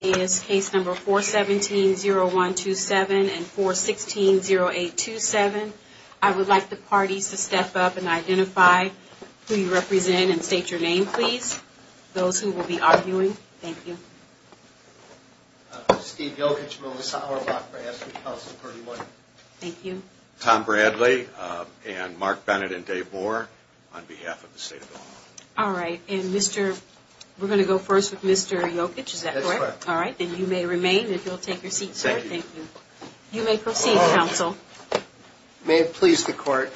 is case number 417-0127 and 416-0827. I would like the parties to step up and identify who you represent and state your name, please. Those who will be arguing. Thank you. Steve Jokic, Melissa Auerbach, Brad Smith, House of 31. Thank you. Tom Bradley and Mark Bennett and Dave Bohr on behalf of the State of Illinois. All right. And we're going to go first with Mr. Jokic. Is that correct? That's correct. All right. And you may remain if you'll take your seat, sir. Thank you. You may proceed, counsel. May it please the court,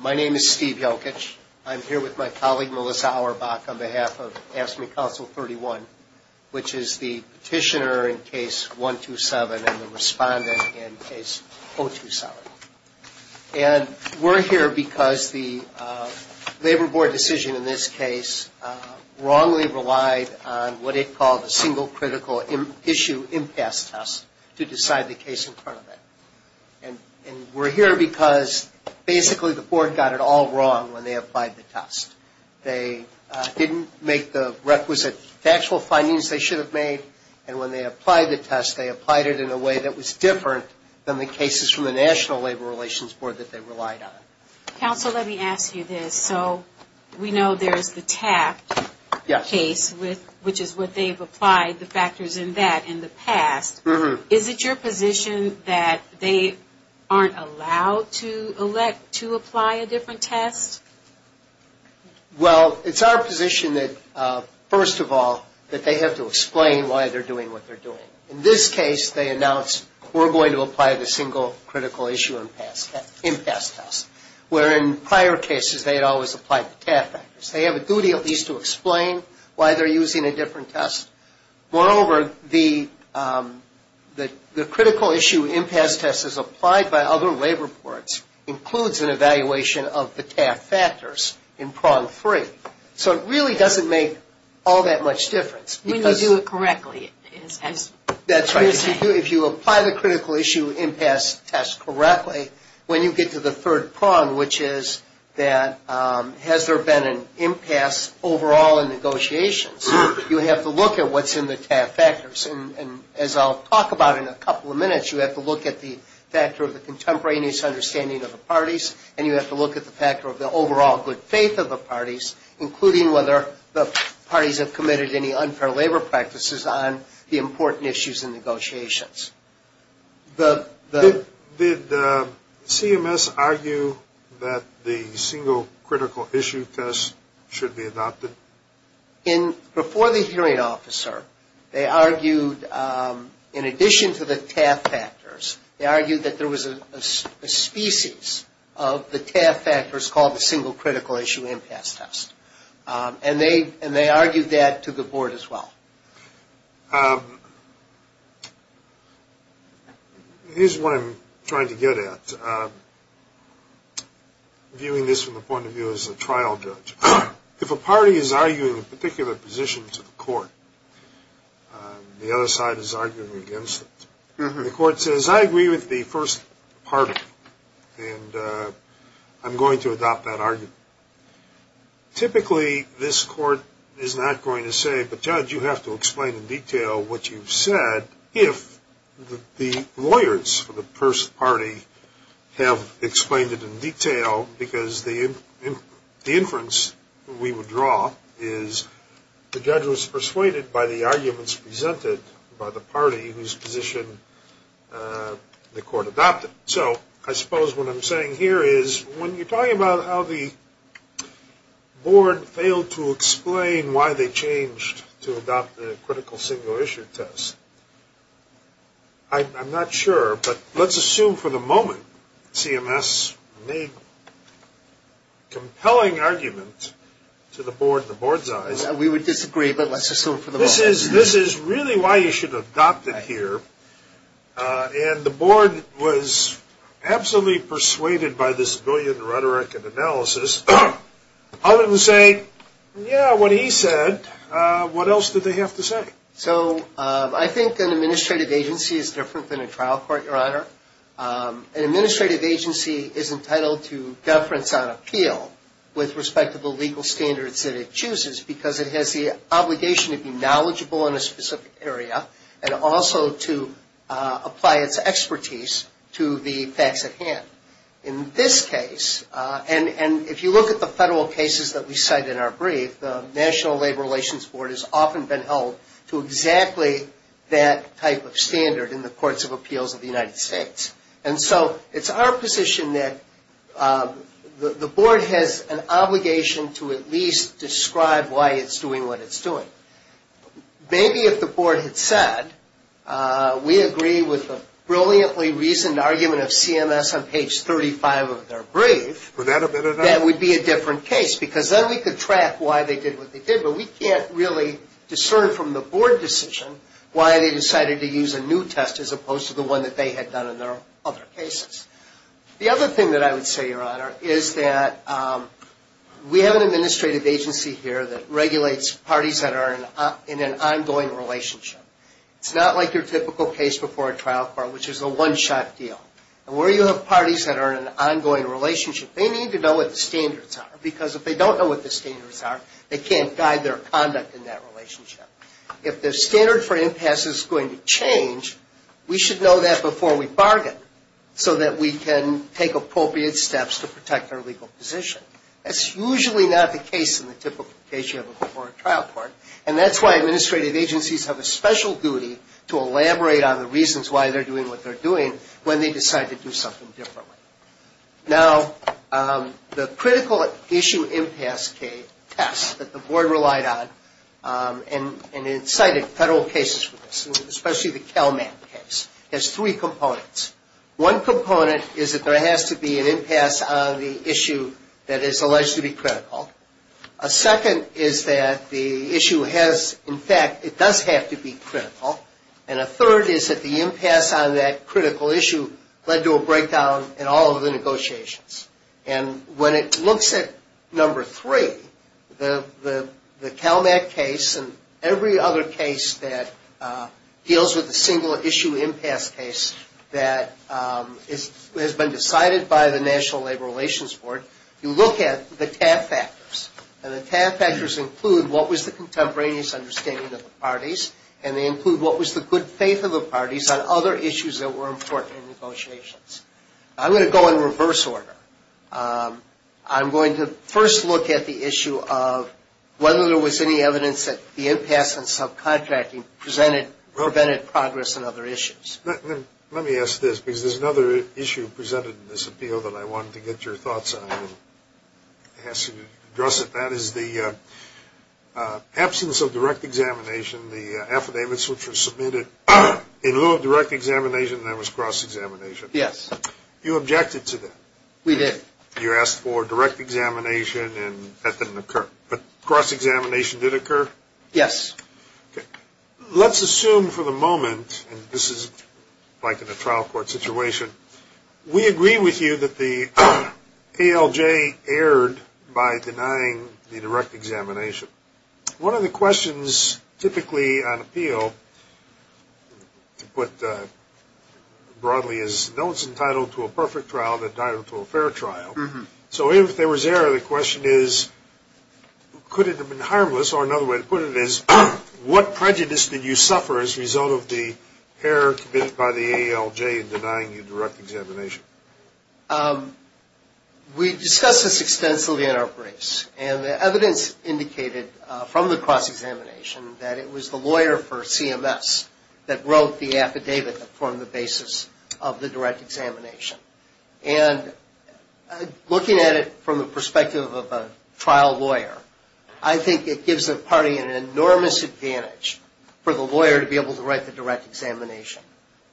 my name is Steve Jokic. I'm here with my colleague Melissa Auerbach on behalf of AFSCME Council 31, which is the petitioner in case 127 and the respondent in case 027. And we're here because the labor board decision in this case wrongly relied on what it called a single critical issue impasse test to decide the case in front of it. And we're here because basically the board got it all wrong when they applied the test. They didn't make the requisite factual findings they should have made. And when they applied the test, they applied it in a way that was different than the cases from the National Labor Relations Board that they relied on. Counsel, let me ask you this. So we know there's the Taft case, which is what they've applied the factors in that in the past. Is it your position that they aren't allowed to elect to apply a different test? Well, it's our position that, first of all, that they have to explain why they're doing what they're doing. In this case, they announced we're going to apply the single critical issue impasse test, where in prior cases they had always applied the Taft factors. They have a duty at least to explain why they're using a different test. Moreover, the critical issue impasse test as applied by other labor boards includes an evaluation of the Taft factors in prong three. So it really doesn't make all that much difference. When you do it correctly, is that what you're saying? If you apply the critical issue impasse test correctly, when you get to the third prong, which is that has there been an impasse overall in negotiations, you have to look at what's in the Taft factors. And as I'll talk about in a couple of minutes, you have to look at the factor of the contemporaneous understanding of the parties, and you have to look at the factor of the overall good faith of the parties, including whether the parties have committed any unfair labor practices on the important issues in negotiations. Did CMS argue that the single critical issue test should be adopted? Before the hearing officer, they argued in addition to the Taft factors, they argued that there was a species of the Taft factors called the single critical issue impasse test. And they argued that to the board as well. Here's what I'm trying to get at, viewing this from the point of view as a trial judge. If a party is arguing a particular position to the court, the other side is arguing against it. The court says, I agree with the first party, and I'm going to adopt that argument. Typically, this court is not going to say, but judge, you have to explain in detail what you've said, if the lawyers for the first party have explained it in detail, because the inference we would draw is the judge was persuaded by the arguments presented by the party whose position the court adopted. So I suppose what I'm saying here is when you're talking about how the board failed to explain why they changed to adopt the critical single issue test, I'm not sure, but let's assume for the moment CMS made a compelling argument to the board in the board's eyes. We would disagree, but let's assume for the moment. This is really why you should adopt it here. And the board was absolutely persuaded by this brilliant rhetoric and analysis. Other than saying, yeah, what he said, what else did they have to say? So I think an administrative agency is different than a trial court, Your Honor. An administrative agency is entitled to deference on appeal with respect to the legal standards that it chooses, because it has the obligation to be knowledgeable in a specific area and also to apply its expertise to the facts at hand. In this case, and if you look at the federal cases that we cite in our brief, the National Labor Relations Board has often been held to exactly that type of standard in the courts of appeals of the United States. And so it's our position that the board has an obligation to at least describe why it's doing what it's doing. Maybe if the board had said, we agree with the brilliantly reasoned argument of CMS on page 35 of their brief, that would be a different case, because then we could track why they did what they did, but we can't really discern from the board decision why they decided to use a new test as opposed to the one that they had done in their other cases. The other thing that I would say, Your Honor, is that we have an administrative agency here that regulates parties that are in an ongoing relationship. It's not like your typical case before a trial court, which is a one-shot deal. And where you have parties that are in an ongoing relationship, they need to know what the standards are, they can't guide their conduct in that relationship. If the standard for impasse is going to change, we should know that before we bargain, so that we can take appropriate steps to protect our legal position. That's usually not the case in the typical case you have before a trial court, and that's why administrative agencies have a special duty to elaborate on the reasons why they're doing what they're doing when they decide to do something differently. Now, the critical issue impasse test that the board relied on, and incited federal cases for this, especially the CalMAP case, has three components. One component is that there has to be an impasse on the issue that is alleged to be critical. A second is that the issue has, in fact, it does have to be critical. And a third is that the impasse on that critical issue led to a breakdown in all of the negotiations. And when it looks at number three, the CalMAP case and every other case that deals with the single-issue impasse case that has been decided by the National Labor Relations Board, you look at the TAF factors. And the TAF factors include what was the contemporaneous understanding of the parties, and they include what was the good faith of the parties on other issues that were important in negotiations. I'm going to go in reverse order. I'm going to first look at the issue of whether there was any evidence that the impasse on subcontracting prevented progress on other issues. Let me ask this, because there's another issue presented in this appeal that I wanted to get your thoughts on. It has to address it. That is the absence of direct examination, the affidavits which were submitted in lieu of direct examination, and that was cross-examination. Yes. You objected to that. We did. You asked for direct examination, and that didn't occur. But cross-examination did occur? Yes. Let's assume for the moment, and this is like in a trial court situation, we agree with you that the ALJ erred by denying the direct examination. One of the questions typically on appeal, to put broadly, is no one is entitled to a perfect trial, they're entitled to a fair trial. So if there was error, the question is could it have been harmless, or another way to put it is what prejudice did you suffer as a result of the error committed by the ALJ in denying you direct examination? We discussed this extensively in our briefs, and the evidence indicated from the cross-examination that it was the lawyer for CMS that wrote the affidavit that formed the basis of the direct examination. And looking at it from the perspective of a trial lawyer, I think it gives the party an enormous advantage for the lawyer to be able to write the direct examination.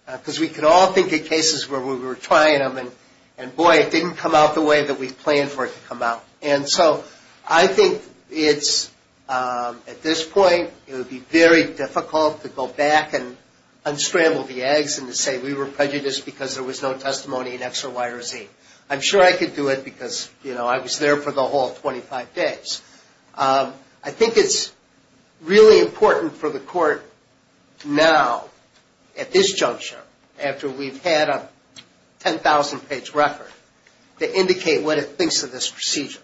Because we could all think of cases where we were trying them, and boy, it didn't come out the way that we planned for it to come out. And so I think it's, at this point, it would be very difficult to go back and unstrangle the eggs and to say we were prejudiced because there was no testimony in X or Y or Z. I'm sure I could do it because, you know, I was there for the whole 25 days. I think it's really important for the court now, at this juncture, after we've had a 10,000-page record, to indicate what it thinks of this procedure.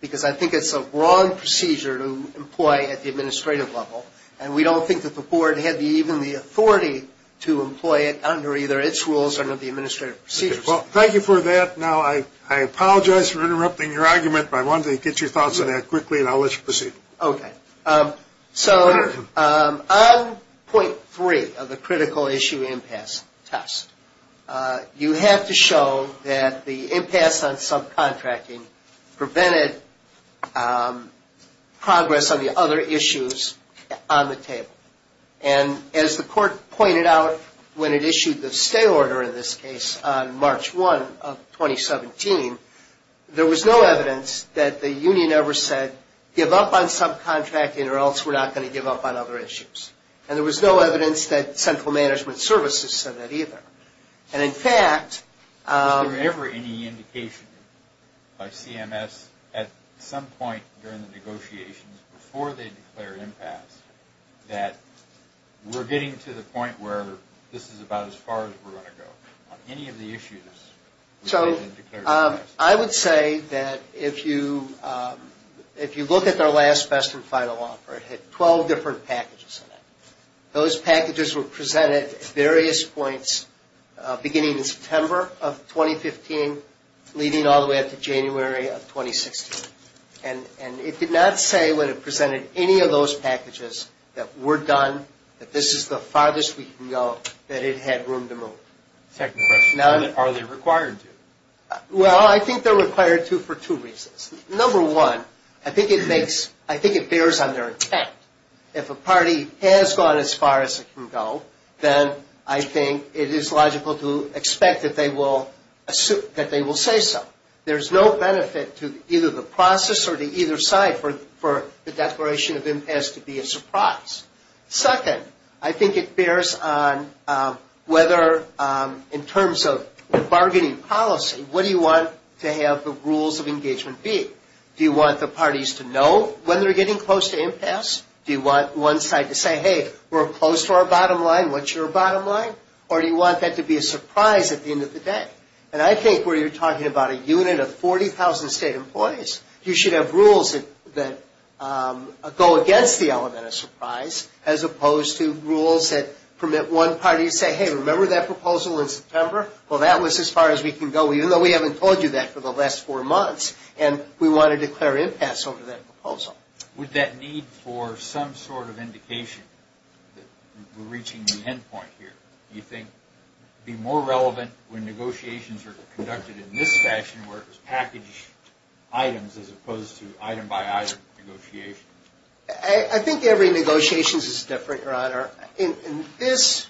Because I think it's a wrong procedure to employ at the administrative level, and we don't think that the board had even the authority to employ it under either its rules or the administrative procedures. Well, thank you for that. Now, I apologize for interrupting your argument, but I wanted to get your thoughts on that quickly, and I'll let you proceed. Okay. So on point three of the critical issue impasse test, you have to show that the impasse on subcontracting prevented progress on the other issues on the table. And as the court pointed out when it issued the stay order in this case on March 1 of 2017, there was no evidence that the union ever said give up on subcontracting or else we're not going to give up on other issues. And there was no evidence that central management services said that either. And, in fact, Was there ever any indication by CMS at some point during the negotiations, before they declared impasse, that we're getting to the point where this is about as far as we're going to go on any of the issues? So I would say that if you look at their last, best, and final offer, it had 12 different packages in it. Those packages were presented at various points beginning in September of 2015, leading all the way up to January of 2016. And it did not say when it presented any of those packages that we're done, that this is the farthest we can go, that it had room to move. Second question, are they required to? Well, I think they're required to for two reasons. Number one, I think it bears on their intent. If a party has gone as far as it can go, then I think it is logical to expect that they will say so. There's no benefit to either the process or to either side for the declaration of impasse to be a surprise. Second, I think it bears on whether, in terms of bargaining policy, what do you want to have the rules of engagement be? Do you want the parties to know when they're getting close to impasse? Do you want one side to say, hey, we're close to our bottom line, what's your bottom line? Or do you want that to be a surprise at the end of the day? And I think where you're talking about a unit of 40,000 state employees, you should have rules that go against the element of surprise, as opposed to rules that permit one party to say, hey, remember that proposal in September? Well, that was as far as we can go, even though we haven't told you that for the last four months. And we want to declare impasse over that proposal. With that need for some sort of indication that we're reaching the end point here, do you think it would be more relevant when negotiations are conducted in this fashion, where it was packaged items as opposed to item-by-item negotiations? I think every negotiation is different, Your Honor. In this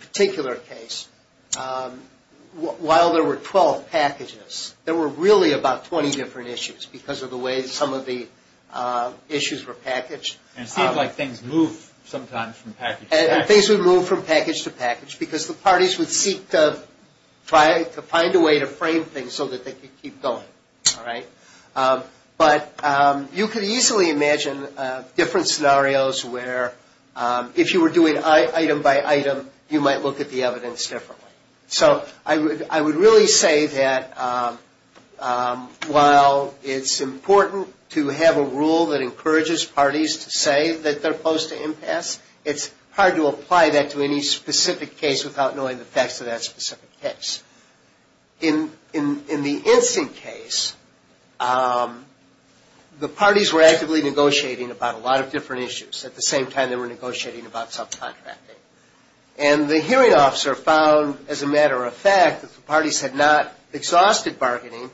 particular case, while there were 12 packages, there were really about 20 different issues because of the way some of the issues were packaged. And it seemed like things moved sometimes from package to package. And things would move from package to package because the parties would seek to find a way to frame things so that they could keep going. But you could easily imagine different scenarios where if you were doing item-by-item, you might look at the evidence differently. So I would really say that while it's important to have a rule that encourages parties to say that they're opposed to impasse, it's hard to apply that to any specific case without knowing the facts of that specific case. In the instant case, the parties were actively negotiating about a lot of different issues. At the same time, they were negotiating about subcontracting. And the hearing officer found, as a matter of fact, that the parties had not exhausted bargaining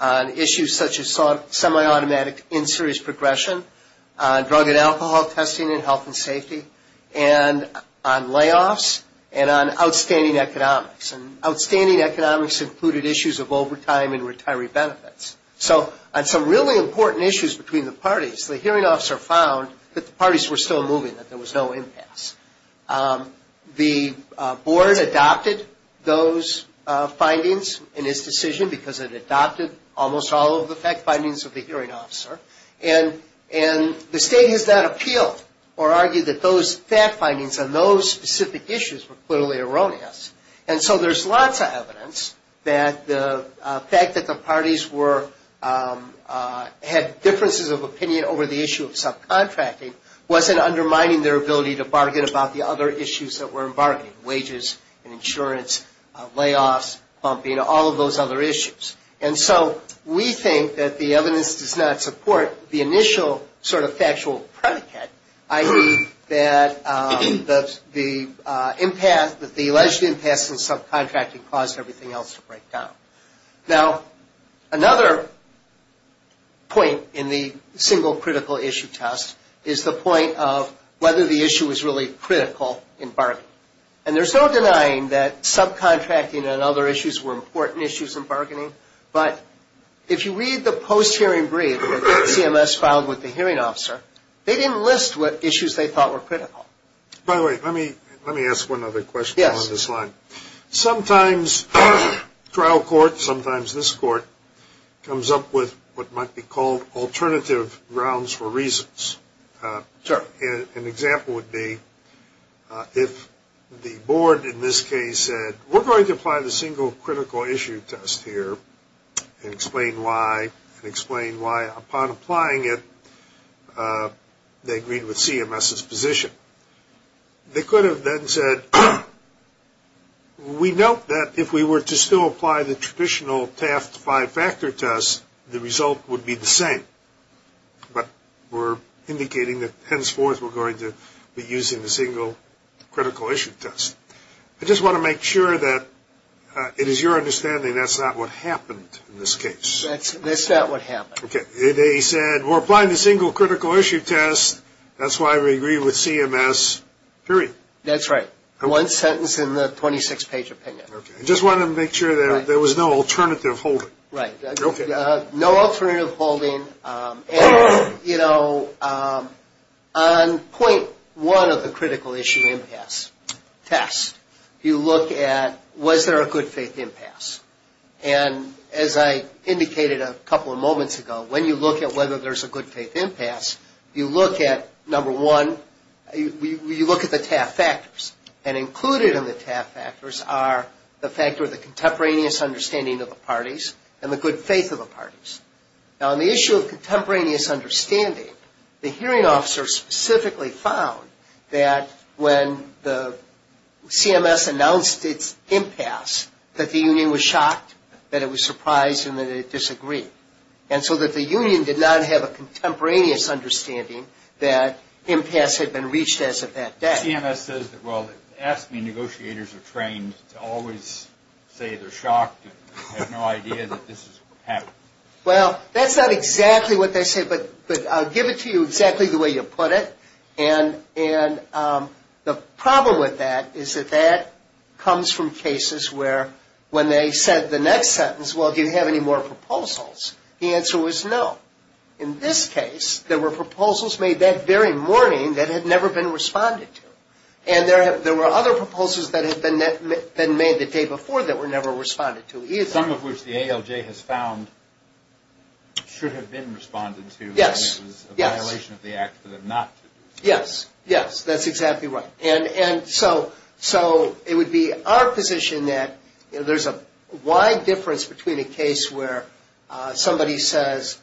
on issues such as semi-automatic insurance progression, drug and alcohol testing and health and safety, and on layoffs, and on outstanding economics. And outstanding economics included issues of overtime and retiree benefits. So on some really important issues between the parties, the hearing officer found that the parties were still moving, that there was no impasse. The board adopted those findings in its decision, because it adopted almost all of the fact findings of the hearing officer. And the state has not appealed or argued that those fact findings on those specific issues were clearly erroneous. And so there's lots of evidence that the fact that the parties had differences of opinion over the issue of subcontracting wasn't undermining their ability to bargain about the other issues that were in bargaining, wages and insurance, layoffs, bumping, all of those other issues. And so we think that the evidence does not support the initial sort of factual predicate, i.e., that the alleged impasse in subcontracting caused everything else to break down. Now, another point in the single critical issue test is the point of whether the issue was really critical in bargaining. And there's no denying that subcontracting and other issues were important issues in bargaining, but if you read the post-hearing brief that CMS filed with the hearing officer, they didn't list what issues they thought were critical. By the way, let me ask one other question along this line. Sometimes trial court, sometimes this court, comes up with what might be called alternative grounds for reasons. Sure. An example would be if the board in this case said, we're going to apply the single critical issue test here and explain why, and explain why upon applying it they agreed with CMS's position. They could have then said, we note that if we were to still apply the traditional Taft five-factor test, the result would be the same, but we're indicating that henceforth we're going to be using the single critical issue test. I just want to make sure that it is your understanding that's not what happened in this case. That's not what happened. They said, we're applying the single critical issue test, that's why we agree with CMS, period. That's right. One sentence in the 26-page opinion. I just wanted to make sure there was no alternative holding. No alternative holding. On point one of the critical issue impasse test, you look at was there a good faith impasse. And as I indicated a couple of moments ago, when you look at whether there's a good faith impasse, you look at, number one, you look at the Taft factors. And included in the Taft factors are the factor of the contemporaneous understanding of the parties and the good faith of the parties. Now, on the issue of contemporaneous understanding, the hearing officer specifically found that when the CMS announced its impasse, that the union was shocked, that it was surprised, and that it disagreed, and so that the union did not have a contemporaneous understanding that impasse had been reached as of that day. CMS says that, well, they ask me, negotiators are trained to always say they're shocked and have no idea that this is happening. Well, that's not exactly what they said, but I'll give it to you exactly the way you put it. And the problem with that is that that comes from cases where when they said the next sentence, well, do you have any more proposals, the answer was no. In this case, there were proposals made that very morning that had never been responded to. And there were other proposals that had been made the day before that were never responded to either. Some of which the ALJ has found should have been responded to, and it was a violation of the act for them not to. Yes, yes, that's exactly right. And so it would be our position that there's a wide difference between a case where somebody says,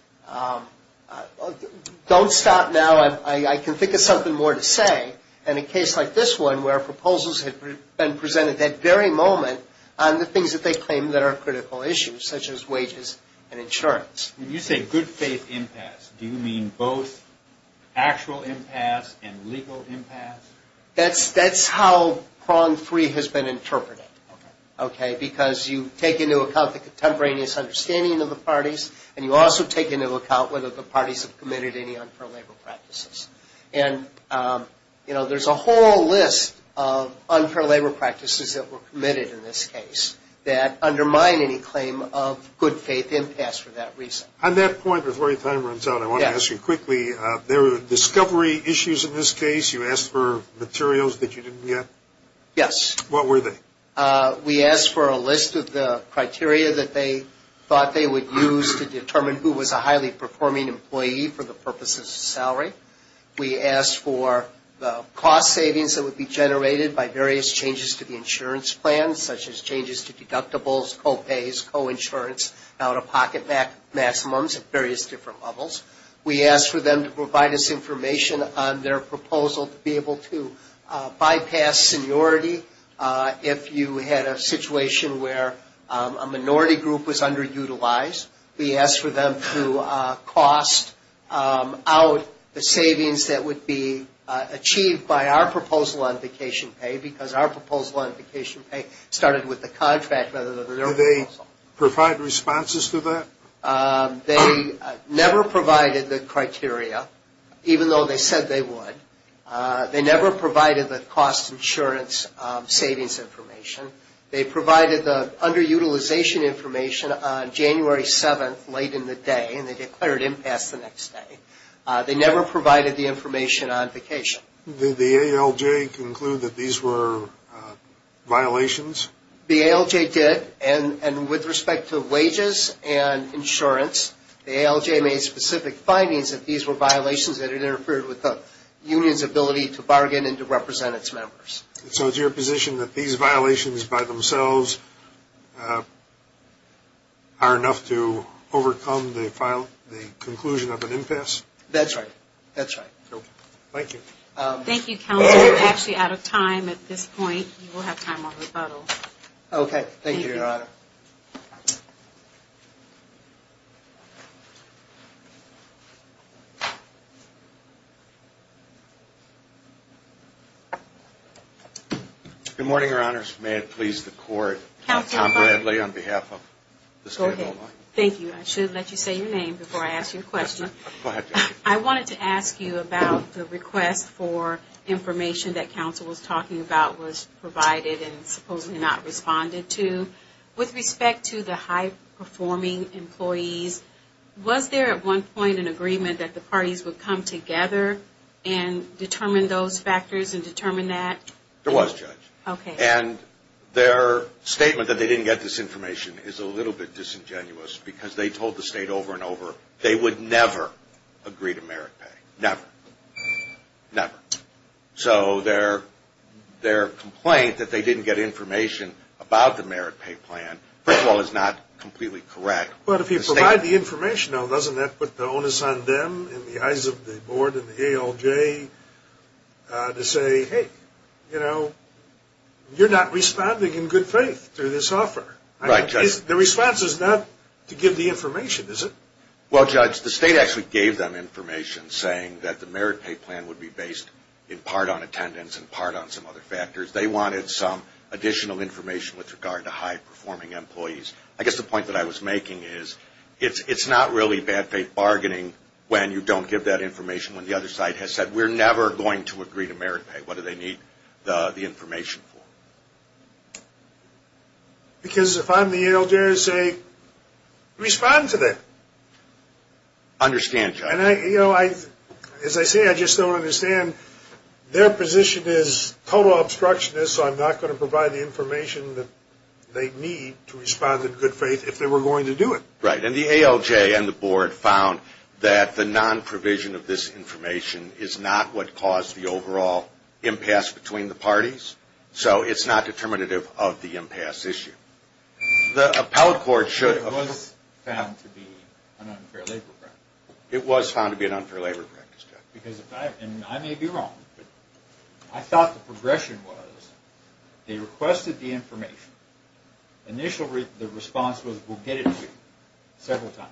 don't stop now, I can think of something more to say, and a case like this one where proposals had been presented that very moment on the things that they claim that are critical issues, such as wages and insurance. When you say good faith impasse, do you mean both actual impasse and legal impasse? That's how prong free has been interpreted. Because you take into account the contemporaneous understanding of the parties, and you also take into account whether the parties have committed any unfair labor practices. And, you know, there's a whole list of unfair labor practices that were committed in this case that undermine any claim of good faith impasse for that reason. On that point, before your time runs out, I want to ask you quickly, there were discovery issues in this case. You asked for materials that you didn't get? Yes. What were they? We asked for a list of the criteria that they thought they would use to determine who was a highly performing employee for the purposes of salary. We asked for the cost savings that would be generated by various changes to the insurance plan, such as changes to deductibles, co-pays, co-insurance, out-of-pocket maximums at various different levels. We asked for them to provide us information on their proposal to be able to bypass seniority if you had a situation where a minority group was underutilized. We asked for them to cost out the savings that would be achieved by our proposal on vacation pay, because our proposal on vacation pay started with the contract rather than their proposal. Did they provide responses to that? They never provided the criteria, even though they said they would. They never provided the cost insurance savings information. They provided the underutilization information on January 7th, late in the day, and they declared impasse the next day. They never provided the information on vacation. Did the ALJ conclude that these were violations? The ALJ did, and with respect to wages and insurance, the ALJ made specific findings that these were violations that interfered with the union's ability to bargain and to represent its members. So is your position that these violations by themselves are enough to overcome the conclusion of an impasse? That's right. That's right. Thank you. Thank you, Counselor. We're actually out of time at this point. You will have time on rebuttal. Okay. Thank you, Your Honor. Good morning, Your Honors. May it please the Court, I'm Tom Bradley on behalf of the State of Omaha. Go ahead. Thank you. I should have let you say your name before I asked you a question. Go ahead. I wanted to ask you about the request for information that counsel was talking about was provided and supposedly not responded to. With respect to the high-performing employees, was there at one point an agreement that the parties would come together and determine those factors and determine that? There was, Judge. Okay. And their statement that they didn't get this information is a little bit disingenuous because they told the State over and over they would never agree to merit pay. Never. Never. So their complaint that they didn't get information about the merit pay plan, first of all, is not completely correct. But if you provide the information, though, doesn't that put the onus on them in the eyes of the Board and the ALJ to say, hey, you know, you're not responding in good faith to this offer? Right, Judge. The response is not to give the information, is it? Well, Judge, the State actually gave them information saying that the merit pay plan would be based in part on attendance and part on some other factors. They wanted some additional information with regard to high-performing employees. I guess the point that I was making is it's not really bad faith bargaining when you don't give that information when the other side has said we're never going to agree to merit pay. What do they need the information for? Because if I'm the ALJ, I say respond to that. Understand, Judge. And, you know, as I say, I just don't understand. Their position is total obstructionist, so I'm not going to provide the information that they need to respond in good faith if they were going to do it. Right. And the ALJ and the Board found that the nonprovision of this information is not what caused the overall impasse between the parties. So it's not determinative of the impasse issue. It was found to be an unfair labor practice. It was found to be an unfair labor practice, Judge. And I may be wrong, but I thought the progression was they requested the information. Initially, the response was we'll get it to you several times.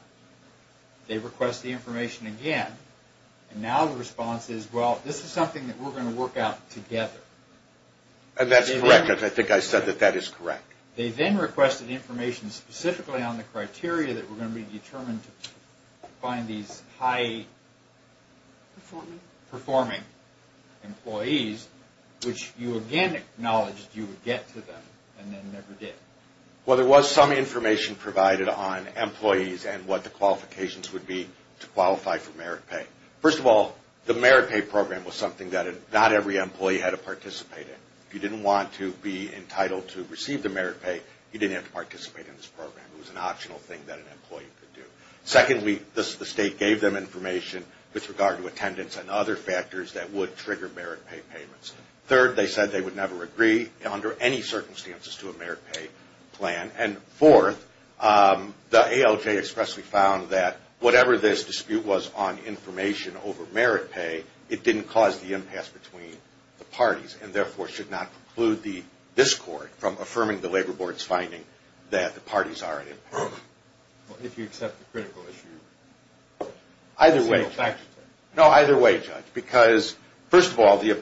They request the information again, and now the response is, well, this is something that we're going to work out together. And that's correct. I think I said that that is correct. They then requested information specifically on the criteria that were going to be determined to find these high-performing employees, which you again acknowledged you would get to them and then never did. Well, there was some information provided on employees and what the qualifications would be to qualify for merit pay. First of all, the merit pay program was something that not every employee had to participate in. If you didn't want to be entitled to receive the merit pay, you didn't have to participate in this program. It was an optional thing that an employee could do. Secondly, the State gave them information with regard to attendance and other factors that would trigger merit pay payments. Third, they said they would never agree under any circumstances to a merit pay plan. And fourth, the ALJ expressly found that whatever this dispute was on information over merit pay, it didn't cause the impasse between the parties and therefore should not preclude this Court from affirming the Labor Board's finding that the parties are at impasse. Well, if you accept the critical issue. Either way, Judge. No, either way, Judge. Because, first of all, the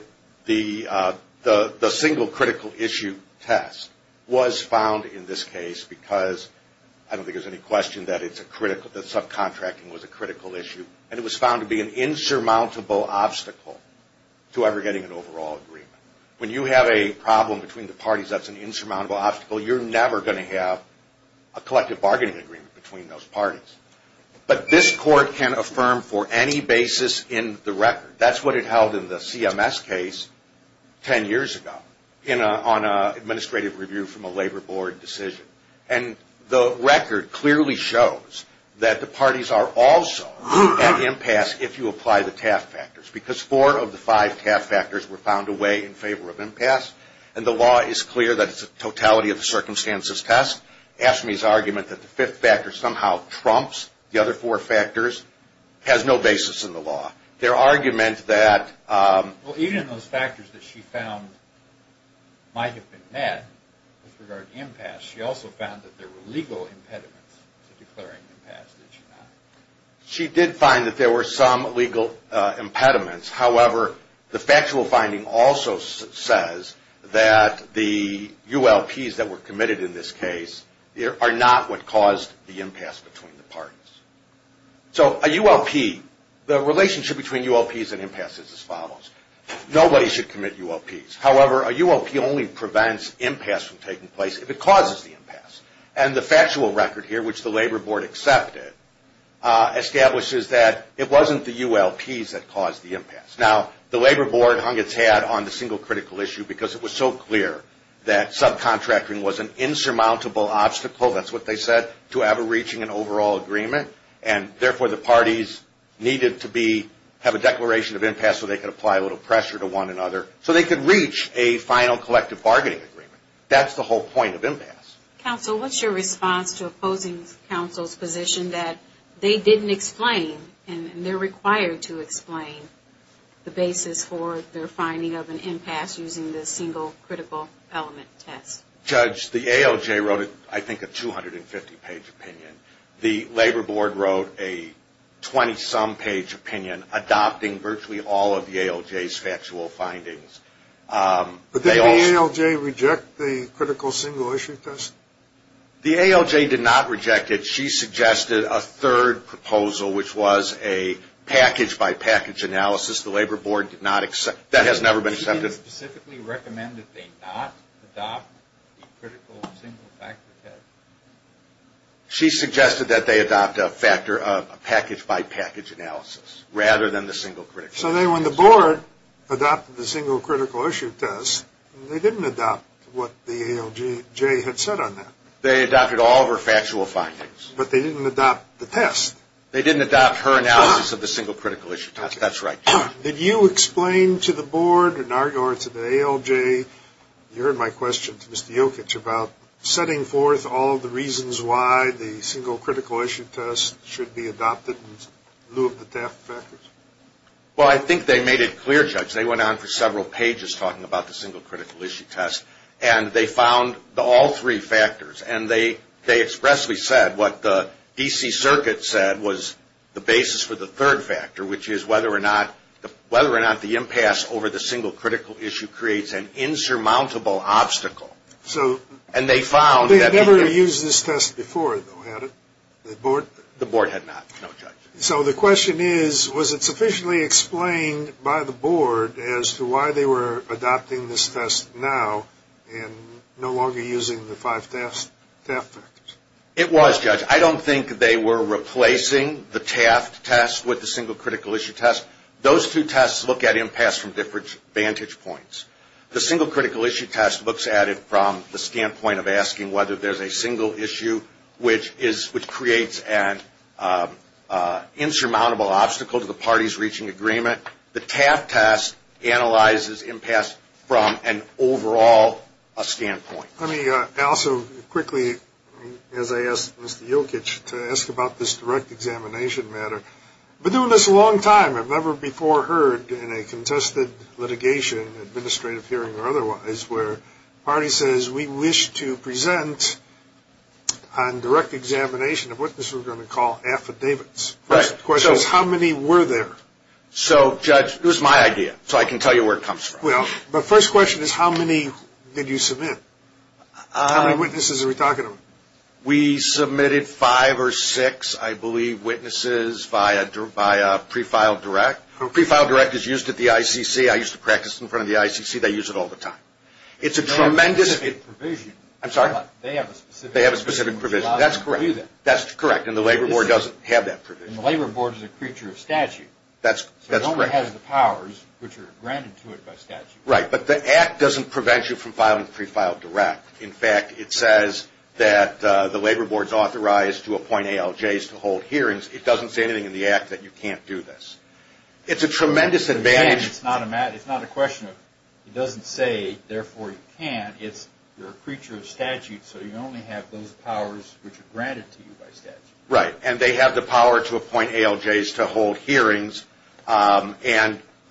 single critical issue test was found in this case because, I don't think there's any question that subcontracting was a critical issue, and it was found to be an insurmountable obstacle to ever getting an overall agreement. When you have a problem between the parties that's an insurmountable obstacle, you're never going to have a collective bargaining agreement between those parties. But this Court can affirm for any basis in the record. That's what it held in the CMS case ten years ago on an administrative review from a Labor Board decision. And the record clearly shows that the parties are also at impasse if you apply the TAF factors because four of the five TAF factors were found to weigh in favor of impasse, and the law is clear that it's a totality of circumstances test. Ashmey's argument that the fifth factor somehow trumps the other four factors has no basis in the law. Their argument that... Well, even in those factors that she found might have been met with regard to impasse, she also found that there were legal impediments to declaring impasse, did she not? She did find that there were some legal impediments. However, the factual finding also says that the ULPs that were committed in this case are not what caused the impasse between the parties. So a ULP, the relationship between ULPs and impasse is as follows. Nobody should commit ULPs. However, a ULP only prevents impasse from taking place if it causes the impasse. And the factual record here, which the Labor Board accepted, establishes that it wasn't the ULPs that caused the impasse. Now, the Labor Board hung its hat on the single critical issue because it was so clear that subcontracting was an insurmountable obstacle, that's what they said, to ever reaching an overall agreement, and therefore the parties needed to have a declaration of impasse so they could apply a little pressure to one another so they could reach a final collective bargaining agreement. That's the whole point of impasse. Counsel, what's your response to opposing counsel's position that they didn't explain and they're required to explain the basis for their finding of an impasse using the single critical element test? Judge, the ALJ wrote, I think, a 250-page opinion. The Labor Board wrote a 20-some page opinion adopting virtually all of the ALJ's factual findings. But did the ALJ reject the critical single issue test? The ALJ did not reject it. She suggested a third proposal, which was a package-by-package analysis. The Labor Board did not accept. That has never been accepted. Did she specifically recommend that they not adopt the critical single factor test? She suggested that they adopt a package-by-package analysis rather than the single critical issue test. So then when the Board adopted the single critical issue test, they didn't adopt what the ALJ had said on that. They adopted all of her factual findings. But they didn't adopt the test. They didn't adopt her analysis of the single critical issue test. That's right. Did you explain to the Board or to the ALJ, you heard my question to Mr. Jokic, about setting forth all of the reasons why the single critical issue test should be adopted in lieu of the TAF factors? Well, I think they made it clear, Judge. They went on for several pages talking about the single critical issue test, and they found all three factors. And they expressly said what the D.C. Circuit said was the basis for the third factor, which is whether or not the impasse over the single critical issue creates an insurmountable obstacle. So they never used this test before, though, had it? The Board had not, no, Judge. So the question is, was it sufficiently explained by the Board as to why they were adopting this test now and no longer using the five TAF factors? It was, Judge. I don't think they were replacing the TAF test with the single critical issue test. Those two tests look at impasse from different vantage points. The single critical issue test looks at it from the standpoint of asking whether there's a single issue, which creates an insurmountable obstacle to the parties reaching agreement. The TAF test analyzes impasse from an overall standpoint. Let me also quickly, as I asked Mr. Jokic, to ask about this direct examination matter. We've been doing this a long time. I've never before heard in a contested litigation, administrative hearing or otherwise, where a party says, we wish to present on direct examination of what this we're going to call affidavits. The question is, how many were there? So, Judge, it was my idea, so I can tell you where it comes from. Well, the first question is, how many did you submit? How many witnesses are we talking about? We submitted five or six, I believe, witnesses via pre-filed direct. Pre-filed direct is used at the ICC. I used to practice in front of the ICC. They use it all the time. It's a tremendous – They have a specific provision. I'm sorry? They have a specific provision. That's correct. That's correct, and the Labor Board doesn't have that provision. And the Labor Board is a creature of statute. That's correct. It only has the powers which are granted to it by statute. Right, but the Act doesn't prevent you from filing pre-filed direct. In fact, it says that the Labor Board is authorized to appoint ALJs to hold hearings. It doesn't say anything in the Act that you can't do this. It's a tremendous advantage. It's not a question of it doesn't say, therefore you can't. It's you're a creature of statute, so you only have those powers which are granted to you by statute. Right, and they have the power to appoint ALJs to hold hearings, and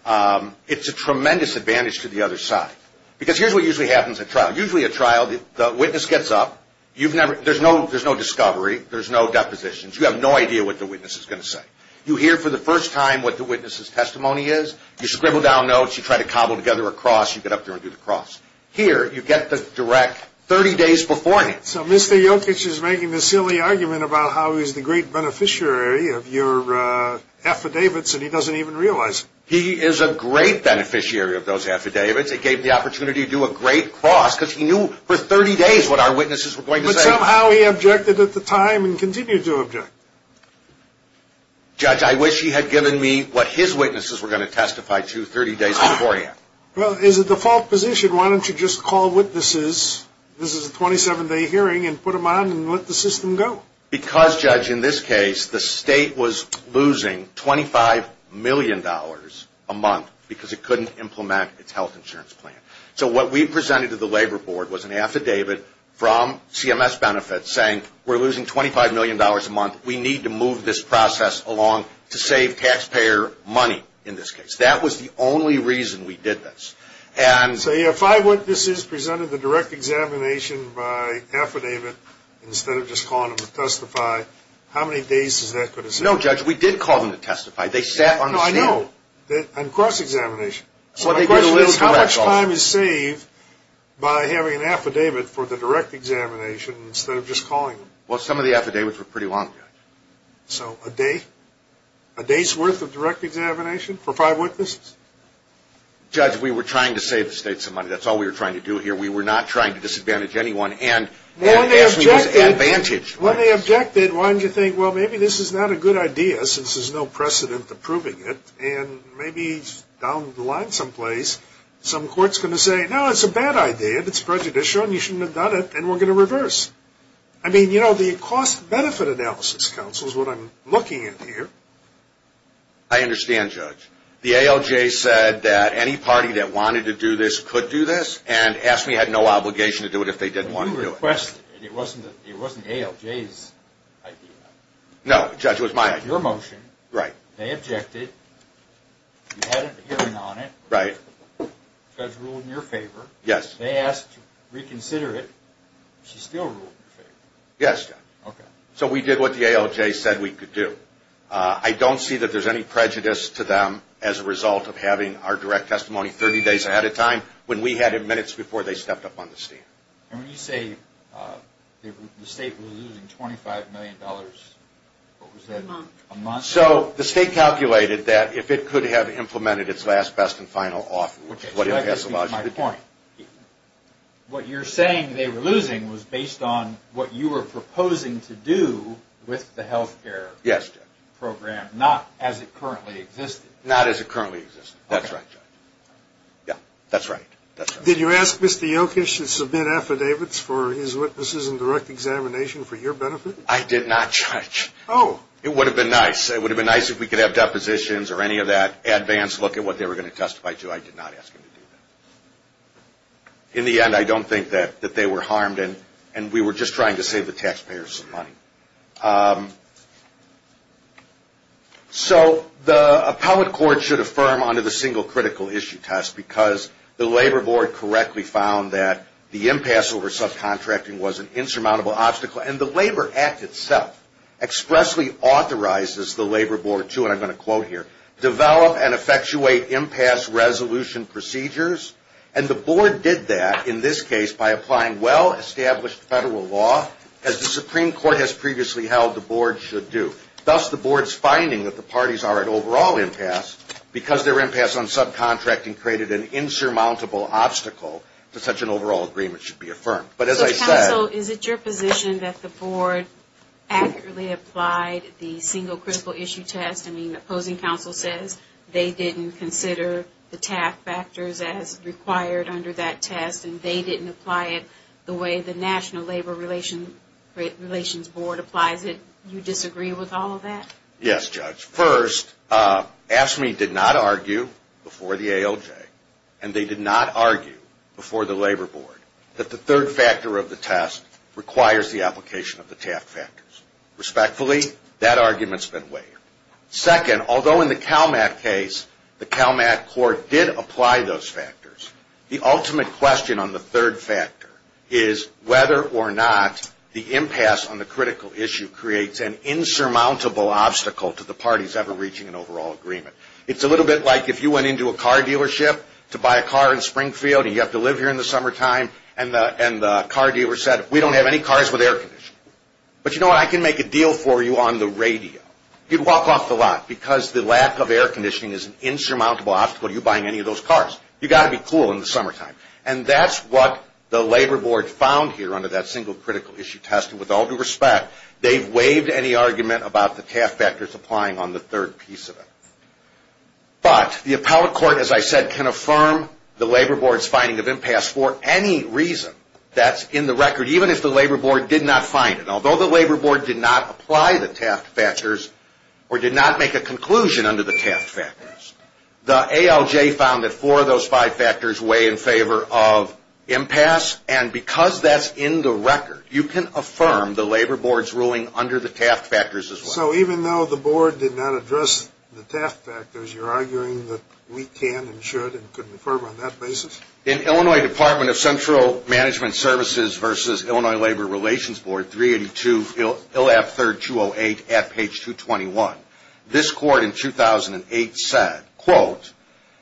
it's a tremendous advantage to the other side. Because here's what usually happens at trial. Usually at trial, the witness gets up. There's no discovery. There's no depositions. You have no idea what the witness is going to say. You hear for the first time what the witness's testimony is. You scribble down notes. You try to cobble together a cross. You get up there and do the cross. Here, you get the direct 30 days beforehand. So Mr. Jokic is making the silly argument about how he's the great beneficiary of your affidavits, and he doesn't even realize it. He is a great beneficiary of those affidavits. It gave him the opportunity to do a great cross because he knew for 30 days what our witnesses were going to say. But somehow he objected at the time and continues to object. Judge, I wish he had given me what his witnesses were going to testify to 30 days beforehand. Well, it's a default position. Why don't you just call witnesses? This is a 27-day hearing, and put them on and let the system go. Because, Judge, in this case, the state was losing $25 million a month because it couldn't implement its health insurance plan. So what we presented to the Labor Board was an affidavit from CMS Benefits saying we're losing $25 million a month. We need to move this process along to save taxpayer money in this case. That was the only reason we did this. So your five witnesses presented the direct examination by affidavit instead of just calling them to testify. How many days is that going to save? No, Judge, we did call them to testify. They sat on the stand. No, I know. And cross-examination. So my question is how much time is saved by having an affidavit for the direct examination instead of just calling them? Well, some of the affidavits were pretty long, Judge. So a day's worth of direct examination for five witnesses? Judge, we were trying to save the state some money. That's all we were trying to do here. We were not trying to disadvantage anyone. Well, when they objected, why didn't you think, well, maybe this is not a good idea since there's no precedent to proving it, and maybe down the line someplace some court's going to say, no, it's a bad idea. It's prejudicial, and you shouldn't have done it, and we're going to reverse. I mean, you know, the Cost-Benefit Analysis Council is what I'm looking at here. I understand, Judge. The ALJ said that any party that wanted to do this could do this and asked we had no obligation to do it if they didn't want to do it. But you requested it. It wasn't the ALJ's idea. No, Judge, it was my idea. Your motion. Right. They objected. You had a hearing on it. Right. Judge ruled in your favor. Yes. They asked to reconsider it. She still ruled in your favor. Yes, Judge. Okay. So we did what the ALJ said we could do. I don't see that there's any prejudice to them as a result of having our direct testimony 30 days ahead of time when we had it minutes before they stepped up on the scene. And when you say the state was losing $25 million, what was that? A month. A month. So the state calculated that if it could have implemented its last, best, and final offer, which is what it has allowed you to do. What you're saying they were losing was based on what you were proposing to do with the health care. Yes, Judge. Program, not as it currently existed. Not as it currently existed. Okay. That's right, Judge. Yeah, that's right. That's right. Did you ask Mr. Yochish to submit affidavits for his witnesses and direct examination for your benefit? I did not, Judge. Oh. It would have been nice. It would have been nice if we could have depositions or any of that advance look at what they were going to testify to. I did not ask him to do that. In the end, I don't think that they were harmed, and we were just trying to save the taxpayers some money. So the appellate court should affirm under the single critical issue test, because the Labor Board correctly found that the impasse over subcontracting was an insurmountable obstacle. And the Labor Act itself expressly authorizes the Labor Board to, and I'm going to quote here, develop and effectuate impasse resolution procedures. And the Board did that in this case by applying well-established federal law, as the Supreme Court has previously held the Board should do. Thus, the Board's finding that the parties are at overall impasse because their impasse on subcontracting created an insurmountable obstacle to such an overall agreement should be affirmed. So counsel, is it your position that the Board accurately applied the single critical issue test? I mean, the opposing counsel says they didn't consider the TAF factors as required under that test, and they didn't apply it the way the National Labor Relations Board applies it. Do you disagree with all of that? Yes, Judge. First, AFSCME did not argue before the ALJ, and they did not argue before the Labor Board, that the third factor of the test requires the application of the TAF factors. Respectfully, that argument's been waived. Second, although in the CALMAC case, the CALMAC Court did apply those factors, the ultimate question on the third factor is whether or not the impasse on the critical issue creates an insurmountable obstacle to the parties ever reaching an overall agreement. It's a little bit like if you went into a car dealership to buy a car in Springfield, and you have to live here in the summertime, and the car dealer said, we don't have any cars with air conditioning. But you know what? I can make a deal for you on the radio. You'd walk off the lot because the lack of air conditioning is an insurmountable obstacle to you buying any of those cars. You've got to be cool in the summertime. And that's what the Labor Board found here under that single critical issue test. With all due respect, they've waived any argument about the TAF factors applying on the third piece of it. But the appellate court, as I said, can affirm the Labor Board's finding of impasse for any reason that's in the record, even if the Labor Board did not find it. Although the Labor Board did not apply the TAF factors or did not make a conclusion under the TAF factors, the ALJ found that four of those five factors weigh in favor of impasse. And because that's in the record, you can affirm the Labor Board's ruling under the TAF factors as well. So even though the Board did not address the TAF factors, you're arguing that we can and should and can affirm on that basis? In Illinois Department of Central Management Services v. Illinois Labor Relations Board 382, 208 at page 221. This court in 2008 said, quote,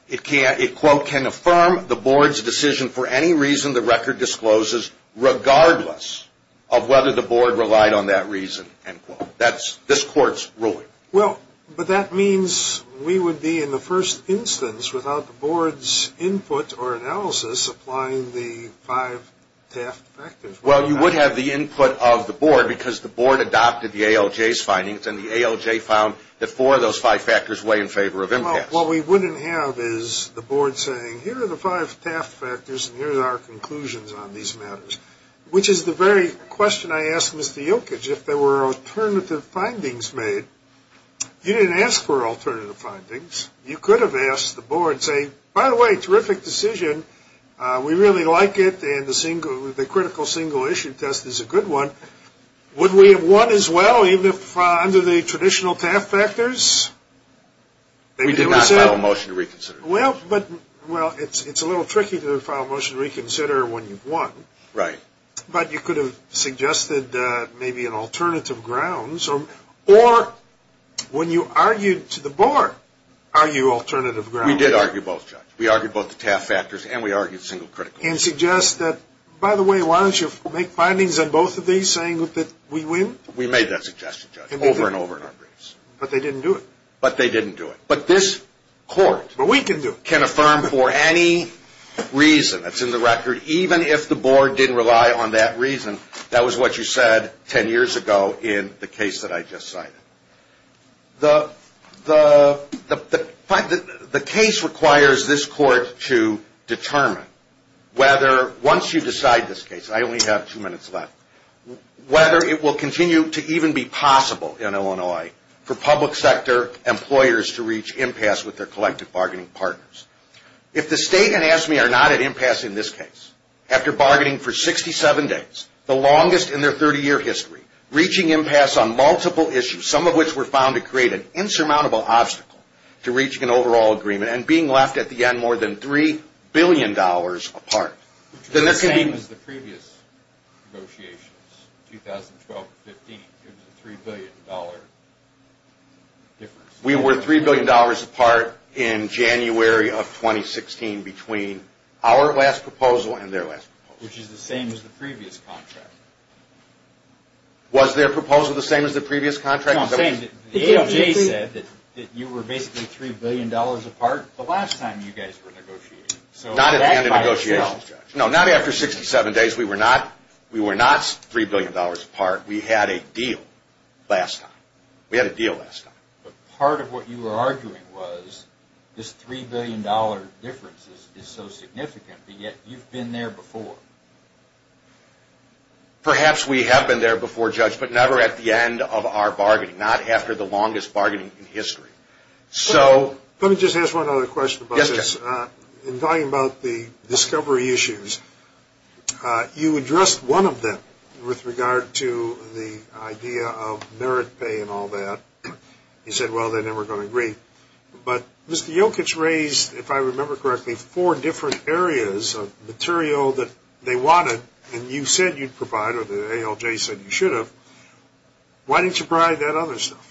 it, quote, can affirm the Board's decision for any reason the record discloses regardless of whether the Board relied on that reason. End quote. That's this court's ruling. Well, but that means we would be in the first instance without the Board's input or analysis applying the five TAF factors. Well, you would have the input of the Board because the Board adopted the ALJ's findings, and the ALJ found that four of those five factors weigh in favor of impasse. Well, what we wouldn't have is the Board saying, here are the five TAF factors, and here are our conclusions on these matters, which is the very question I asked Mr. Yilkage. If there were alternative findings made, you didn't ask for alternative findings. You could have asked the Board, say, by the way, terrific decision. We really like it, and the critical single issue test is a good one. Would we have won as well even if under the traditional TAF factors? We did not file a motion to reconsider. Well, it's a little tricky to file a motion to reconsider when you've won. Right. But you could have suggested maybe an alternative grounds, or when you argued to the Board, argue alternative grounds. We did argue both, Judge. We argued both the TAF factors and we argued single critical. And suggest that, by the way, why don't you make findings on both of these saying that we win? We made that suggestion, Judge, over and over in our briefs. But they didn't do it. But they didn't do it. But this Court can affirm for any reason that's in the record, even if the Board didn't rely on that reason, that was what you said ten years ago in the case that I just cited. The case requires this Court to determine whether, once you decide this case, I only have two minutes left, whether it will continue to even be possible in Illinois for public sector employers to reach impasse with their collective bargaining partners. If the State and AFSCME are not at impasse in this case, after bargaining for 67 days, the longest in their 30-year history, reaching impasse on multiple issues, some of which were found to create an insurmountable obstacle to reaching an overall agreement, and being left at the end more than $3 billion apart, then this can be... Which is the same as the previous negotiations, 2012-15. It was a $3 billion difference. We were $3 billion apart in January of 2016 between our last proposal and their last proposal. Which is the same as the previous contract. Was their proposal the same as the previous contract? The AMJ said that you were basically $3 billion apart the last time you guys were negotiating. Not at the end of negotiations, Judge. No, not after 67 days. We were not $3 billion apart. We had a deal last time. We had a deal last time. But part of what you were arguing was this $3 billion difference is so significant, yet you've been there before. Perhaps we have been there before, Judge, but never at the end of our bargaining. Not after the longest bargaining in history. So... Let me just ask one other question about this. Yes, Judge. In talking about the discovery issues, you addressed one of them with regard to the idea of merit pay and all that. You said, well, they're never going to agree. But Mr. Jokic raised, if I remember correctly, four different areas of material that they wanted, and you said you'd provide, or the ALJ said you should have. Why didn't you provide that other stuff?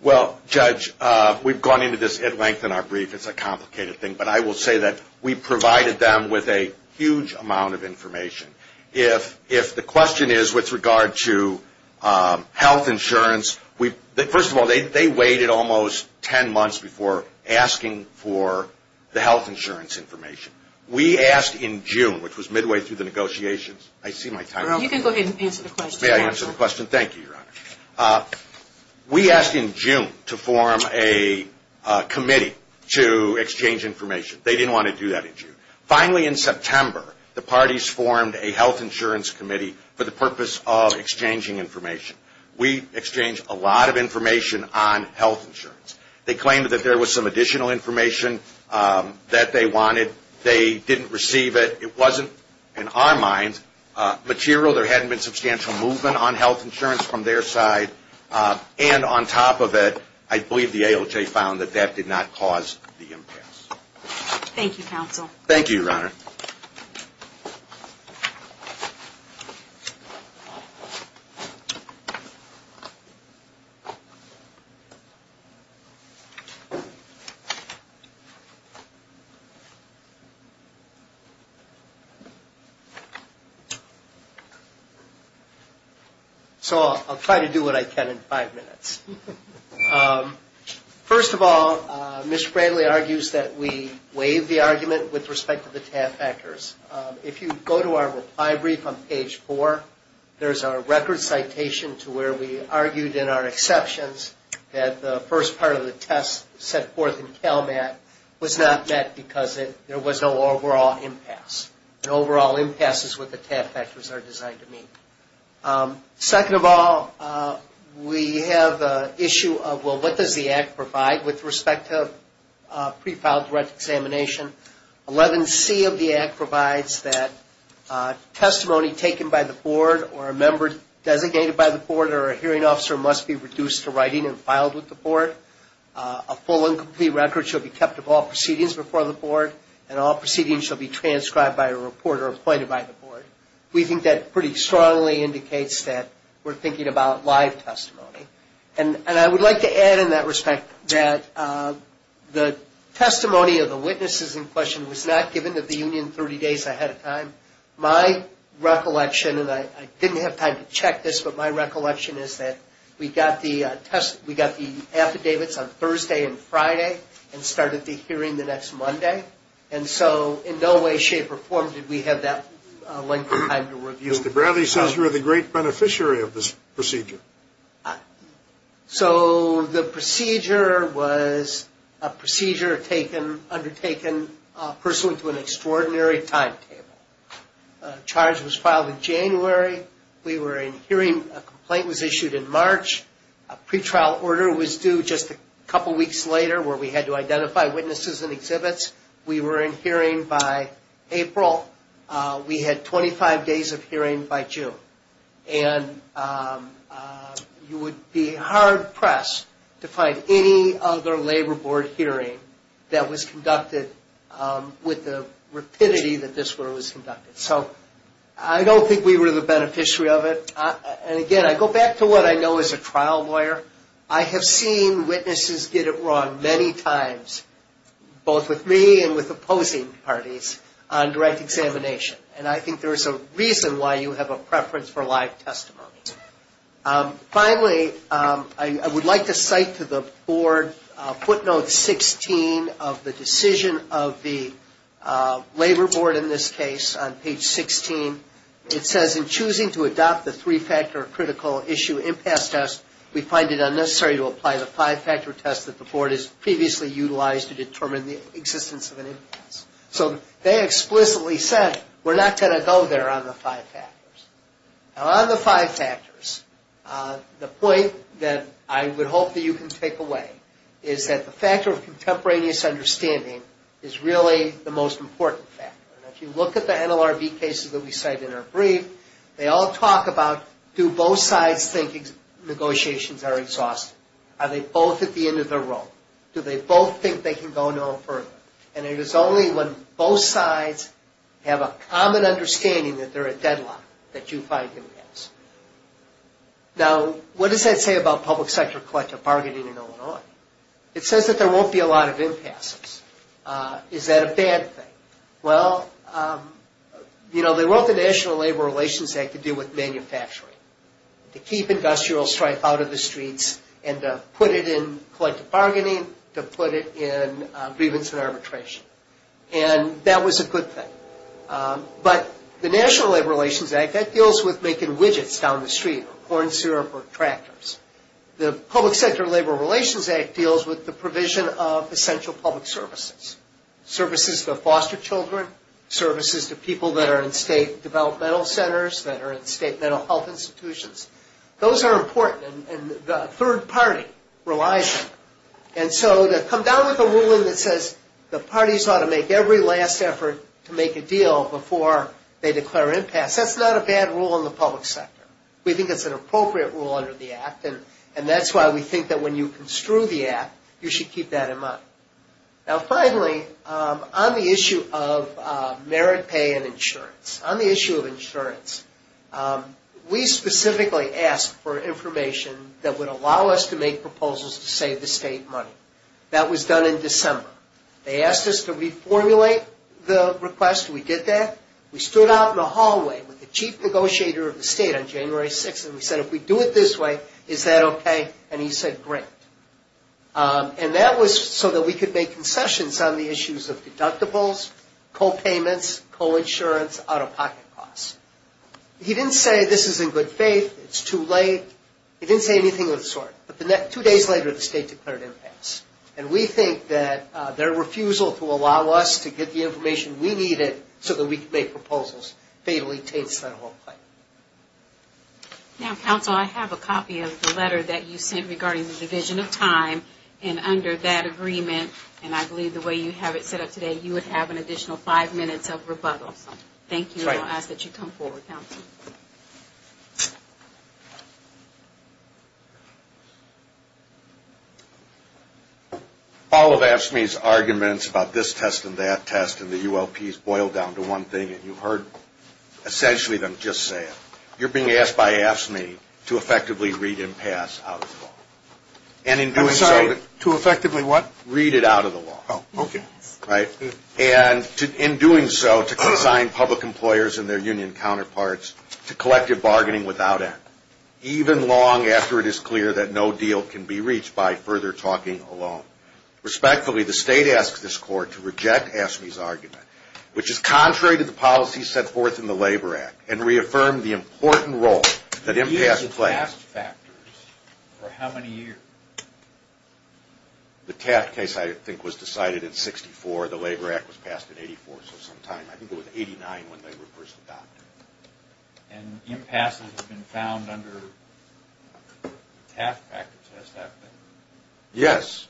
Well, Judge, we've gone into this at length in our brief. It's a complicated thing. But I will say that we provided them with a huge amount of information. If the question is with regard to health insurance, first of all, they waited almost ten months before asking for the health insurance information. We asked in June, which was midway through the negotiations. I see my time is up. You can go ahead and answer the question. May I answer the question? Thank you, Your Honor. We asked in June to form a committee to exchange information. They didn't want to do that in June. Finally, in September, the parties formed a health insurance committee for the purpose of exchanging information. We exchanged a lot of information on health insurance. They claimed that there was some additional information that they wanted. They didn't receive it. It wasn't, in our minds, material. There hadn't been substantial movement on health insurance from their side. And on top of it, I believe the ALJ found that that did not cause the impasse. Thank you, counsel. Thank you, Your Honor. Thank you, Your Honor. So I'll try to do what I can in five minutes. First of all, Mr. Bradley argues that we waive the argument with respect to the TAF actors. If you go to our reply brief on page four, there's our record citation to where we argued in our exceptions that the first part of the test set forth in CALMAT was not met because there was no overall impasse. An overall impasse is what the TAF actors are designed to mean. Second of all, we have the issue of, well, what does the Act provide with respect to pre-filed direct examination? 11C of the Act provides that testimony taken by the board or a member designated by the board or a hearing officer must be reduced to writing and filed with the board. A full and complete record shall be kept of all proceedings before the board, and all proceedings shall be transcribed by a reporter appointed by the board. We think that pretty strongly indicates that we're thinking about live testimony. And I would like to add in that respect that the testimony of the witnesses in question was not given to the union 30 days ahead of time. My recollection, and I didn't have time to check this, but my recollection is that we got the affidavits on Thursday and Friday and started the hearing the next Monday. And so in no way, shape, or form did we have that length of time to review. Mr. Bradley says you're the great beneficiary of this procedure. So the procedure was a procedure undertaken pursuant to an extraordinary timetable. A charge was filed in January. We were in hearing. A complaint was issued in March. A pretrial order was due just a couple weeks later where we had to identify witnesses and exhibits. We were in hearing by April. We had 25 days of hearing by June. And you would be hard-pressed to find any other labor board hearing that was conducted with the rapidity that this one was conducted. So I don't think we were the beneficiary of it. And again, I go back to what I know as a trial lawyer. I have seen witnesses get it wrong many times, both with me and with opposing parties, on direct examination. And I think there is a reason why you have a preference for live testimony. Finally, I would like to cite to the board footnote 16 of the decision of the labor board in this case on page 16. It says, in choosing to adopt the three-factor critical issue impasse test, we find it unnecessary to apply the five-factor test that the board has previously utilized to determine the existence of an impasse. So they explicitly said, we're not going to go there on the five factors. Now, on the five factors, the point that I would hope that you can take away is that the factor of contemporaneous understanding is really the most important factor. If you look at the NLRB cases that we cite in our brief, they all talk about, do both sides think negotiations are exhausting? Are they both at the end of their rope? Do they both think they can go no further? And it is only when both sides have a common understanding that they're at deadlock that you find impasse. Now, what does that say about public sector collective bargaining in Illinois? It says that there won't be a lot of impasses. Is that a bad thing? Well, you know, they wrote the National Labor Relations Act to deal with manufacturing. To keep industrial strife out of the streets and to put it in collective bargaining, to put it in grievance and arbitration. And that was a good thing. But the National Labor Relations Act, that deals with making widgets down the street, corn syrup or tractors. The Public Sector Labor Relations Act deals with the provision of essential public services. Services for foster children, services to people that are in state developmental centers, that are in state mental health institutions. Those are important. And the third party relies on them. And so to come down with a ruling that says the parties ought to make every last effort to make a deal before they declare impasse, that's not a bad rule in the public sector. We think it's an appropriate rule under the Act. And that's why we think that when you construe the Act, you should keep that in mind. Now, finally, on the issue of merit pay and insurance. On the issue of insurance, we specifically asked for information that would allow us to make proposals to save the state money. That was done in December. They asked us to reformulate the request. We did that. We stood out in the hallway with the chief negotiator of the state on January 6th and we said, if we do it this way, is that okay? And he said, great. And that was so that we could make concessions on the issues of deductibles, co-payments, co-insurance, out-of-pocket costs. He didn't say this is in good faith, it's too late. He didn't say anything of the sort. But two days later, the state declared impasse. And we think that their refusal to allow us to get the information we needed so that we could make proposals fatally taints that whole claim. Now, counsel, I have a copy of the letter that you sent regarding the division of time. And under that agreement, and I believe the way you have it set up today, you would have an additional five minutes of rebuttal. Thank you. And I'll ask that you come forward, counsel. All of AFSCME's arguments about this test and that test and the ULPs boil down to one thing. And you've heard essentially them just say it. You're being asked by AFSCME to effectively read impasse out of the law. I'm sorry, to effectively what? Read it out of the law. Oh, okay. Right? And in doing so, to consign public employers and their union counterparts to collective bargaining without end, even long after it is clear that no deal can be reached by further talking alone. Respectfully, the state asks this court to reject AFSCME's argument, which is contrary to the policy set forth in the Labor Act, and reaffirm the important role that impasse plays. The use of taft factors for how many years? The taft case, I think, was decided in 64. The Labor Act was passed in 84, so some time. I think it was 89 when they were first adopted. And impasse has been found under taft factors, has that been? Yes.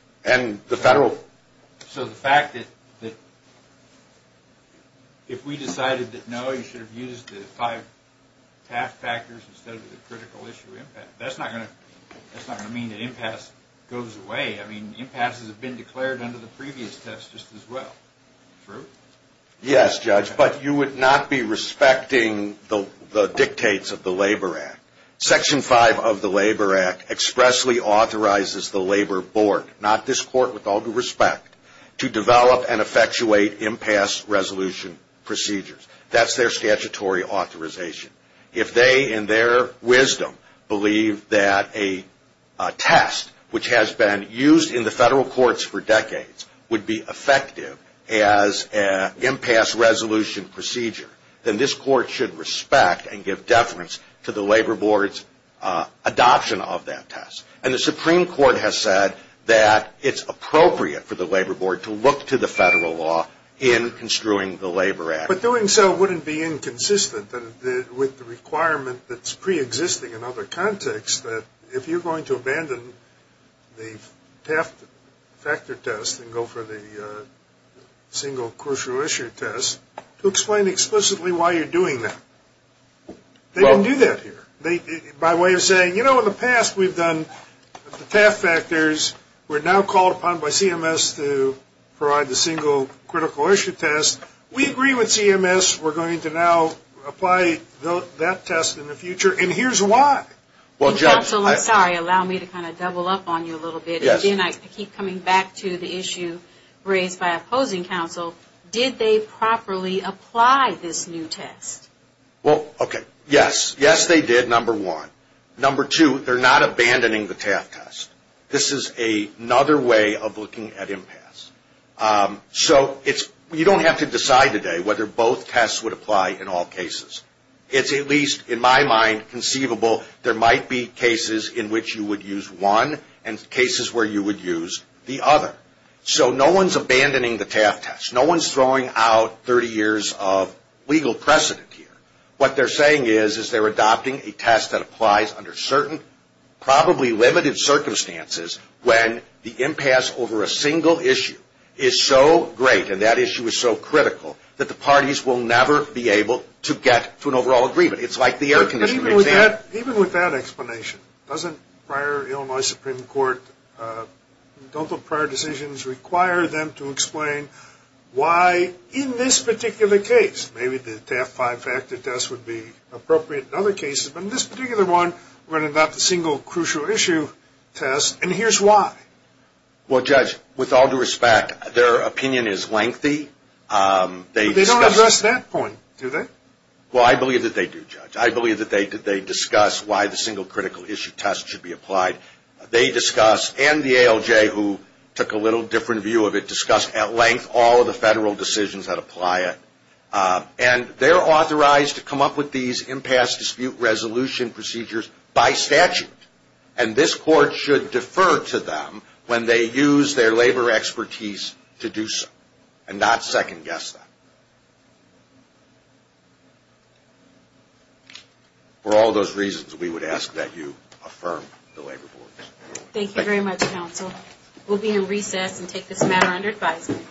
So the fact that if we decided that, no, you should have used the five taft factors instead of the critical issue impasse, that's not going to mean that impasse goes away. I mean, impasses have been declared under the previous test just as well. True? Yes, Judge, but you would not be respecting the dictates of the Labor Act. Section 5 of the Labor Act expressly authorizes the Labor Board, not this court with all due respect, to develop and effectuate impasse resolution procedures. That's their statutory authorization. If they, in their wisdom, believe that a test, which has been used in the federal courts for decades, would be effective as an impasse resolution procedure, then this court should respect and give deference to the Labor Board's adoption of that test. And the Supreme Court has said that it's appropriate for the Labor Board to look to the federal law in construing the Labor Act. But doing so wouldn't be inconsistent with the requirement that's preexisting in other contexts, that if you're going to abandon the taft factor test and go for the single crucial issue test, to explain explicitly why you're doing that. They didn't do that here. By way of saying, you know, in the past we've done the taft factors. We're now called upon by CMS to provide the single critical issue test. We agree with CMS. We're going to now apply that test in the future, and here's why. Well, Judge. Counsel, I'm sorry. Allow me to kind of double up on you a little bit. Again, I keep coming back to the issue raised by opposing counsel. Did they properly apply this new test? Well, okay. Yes. Yes, they did, number one. Number two, they're not abandoning the taft test. This is another way of looking at impasse. So you don't have to decide today whether both tests would apply in all cases. It's at least, in my mind, conceivable there might be cases in which you would use one and cases where you would use the other. So no one's abandoning the taft test. No one's throwing out 30 years of legal precedent here. What they're saying is they're adopting a test that applies under certain, probably limited circumstances when the impasse over a single issue is so great, and that issue is so critical, that the parties will never be able to get to an overall agreement. It's like the air conditioning exam. Even with that explanation, doesn't prior Illinois Supreme Court, don't the prior decisions require them to explain why in this particular case, maybe the taft five-factor test would be appropriate in other cases, but in this particular one, we're going to adopt the single crucial issue test, and here's why. Well, Judge, with all due respect, their opinion is lengthy. They don't address that point, do they? Well, I believe that they do, Judge. I believe that they discuss why the single critical issue test should be applied. They discuss, and the ALJ, who took a little different view of it, discussed at length all of the federal decisions that apply it, and they're authorized to come up with these impasse dispute resolution procedures by statute, and this Court should defer to them when they use their labor expertise to do so, and not second-guess them. For all those reasons, we would ask that you affirm the labor boards. Thank you very much, Counsel. We'll be in recess and take this matter under advisement.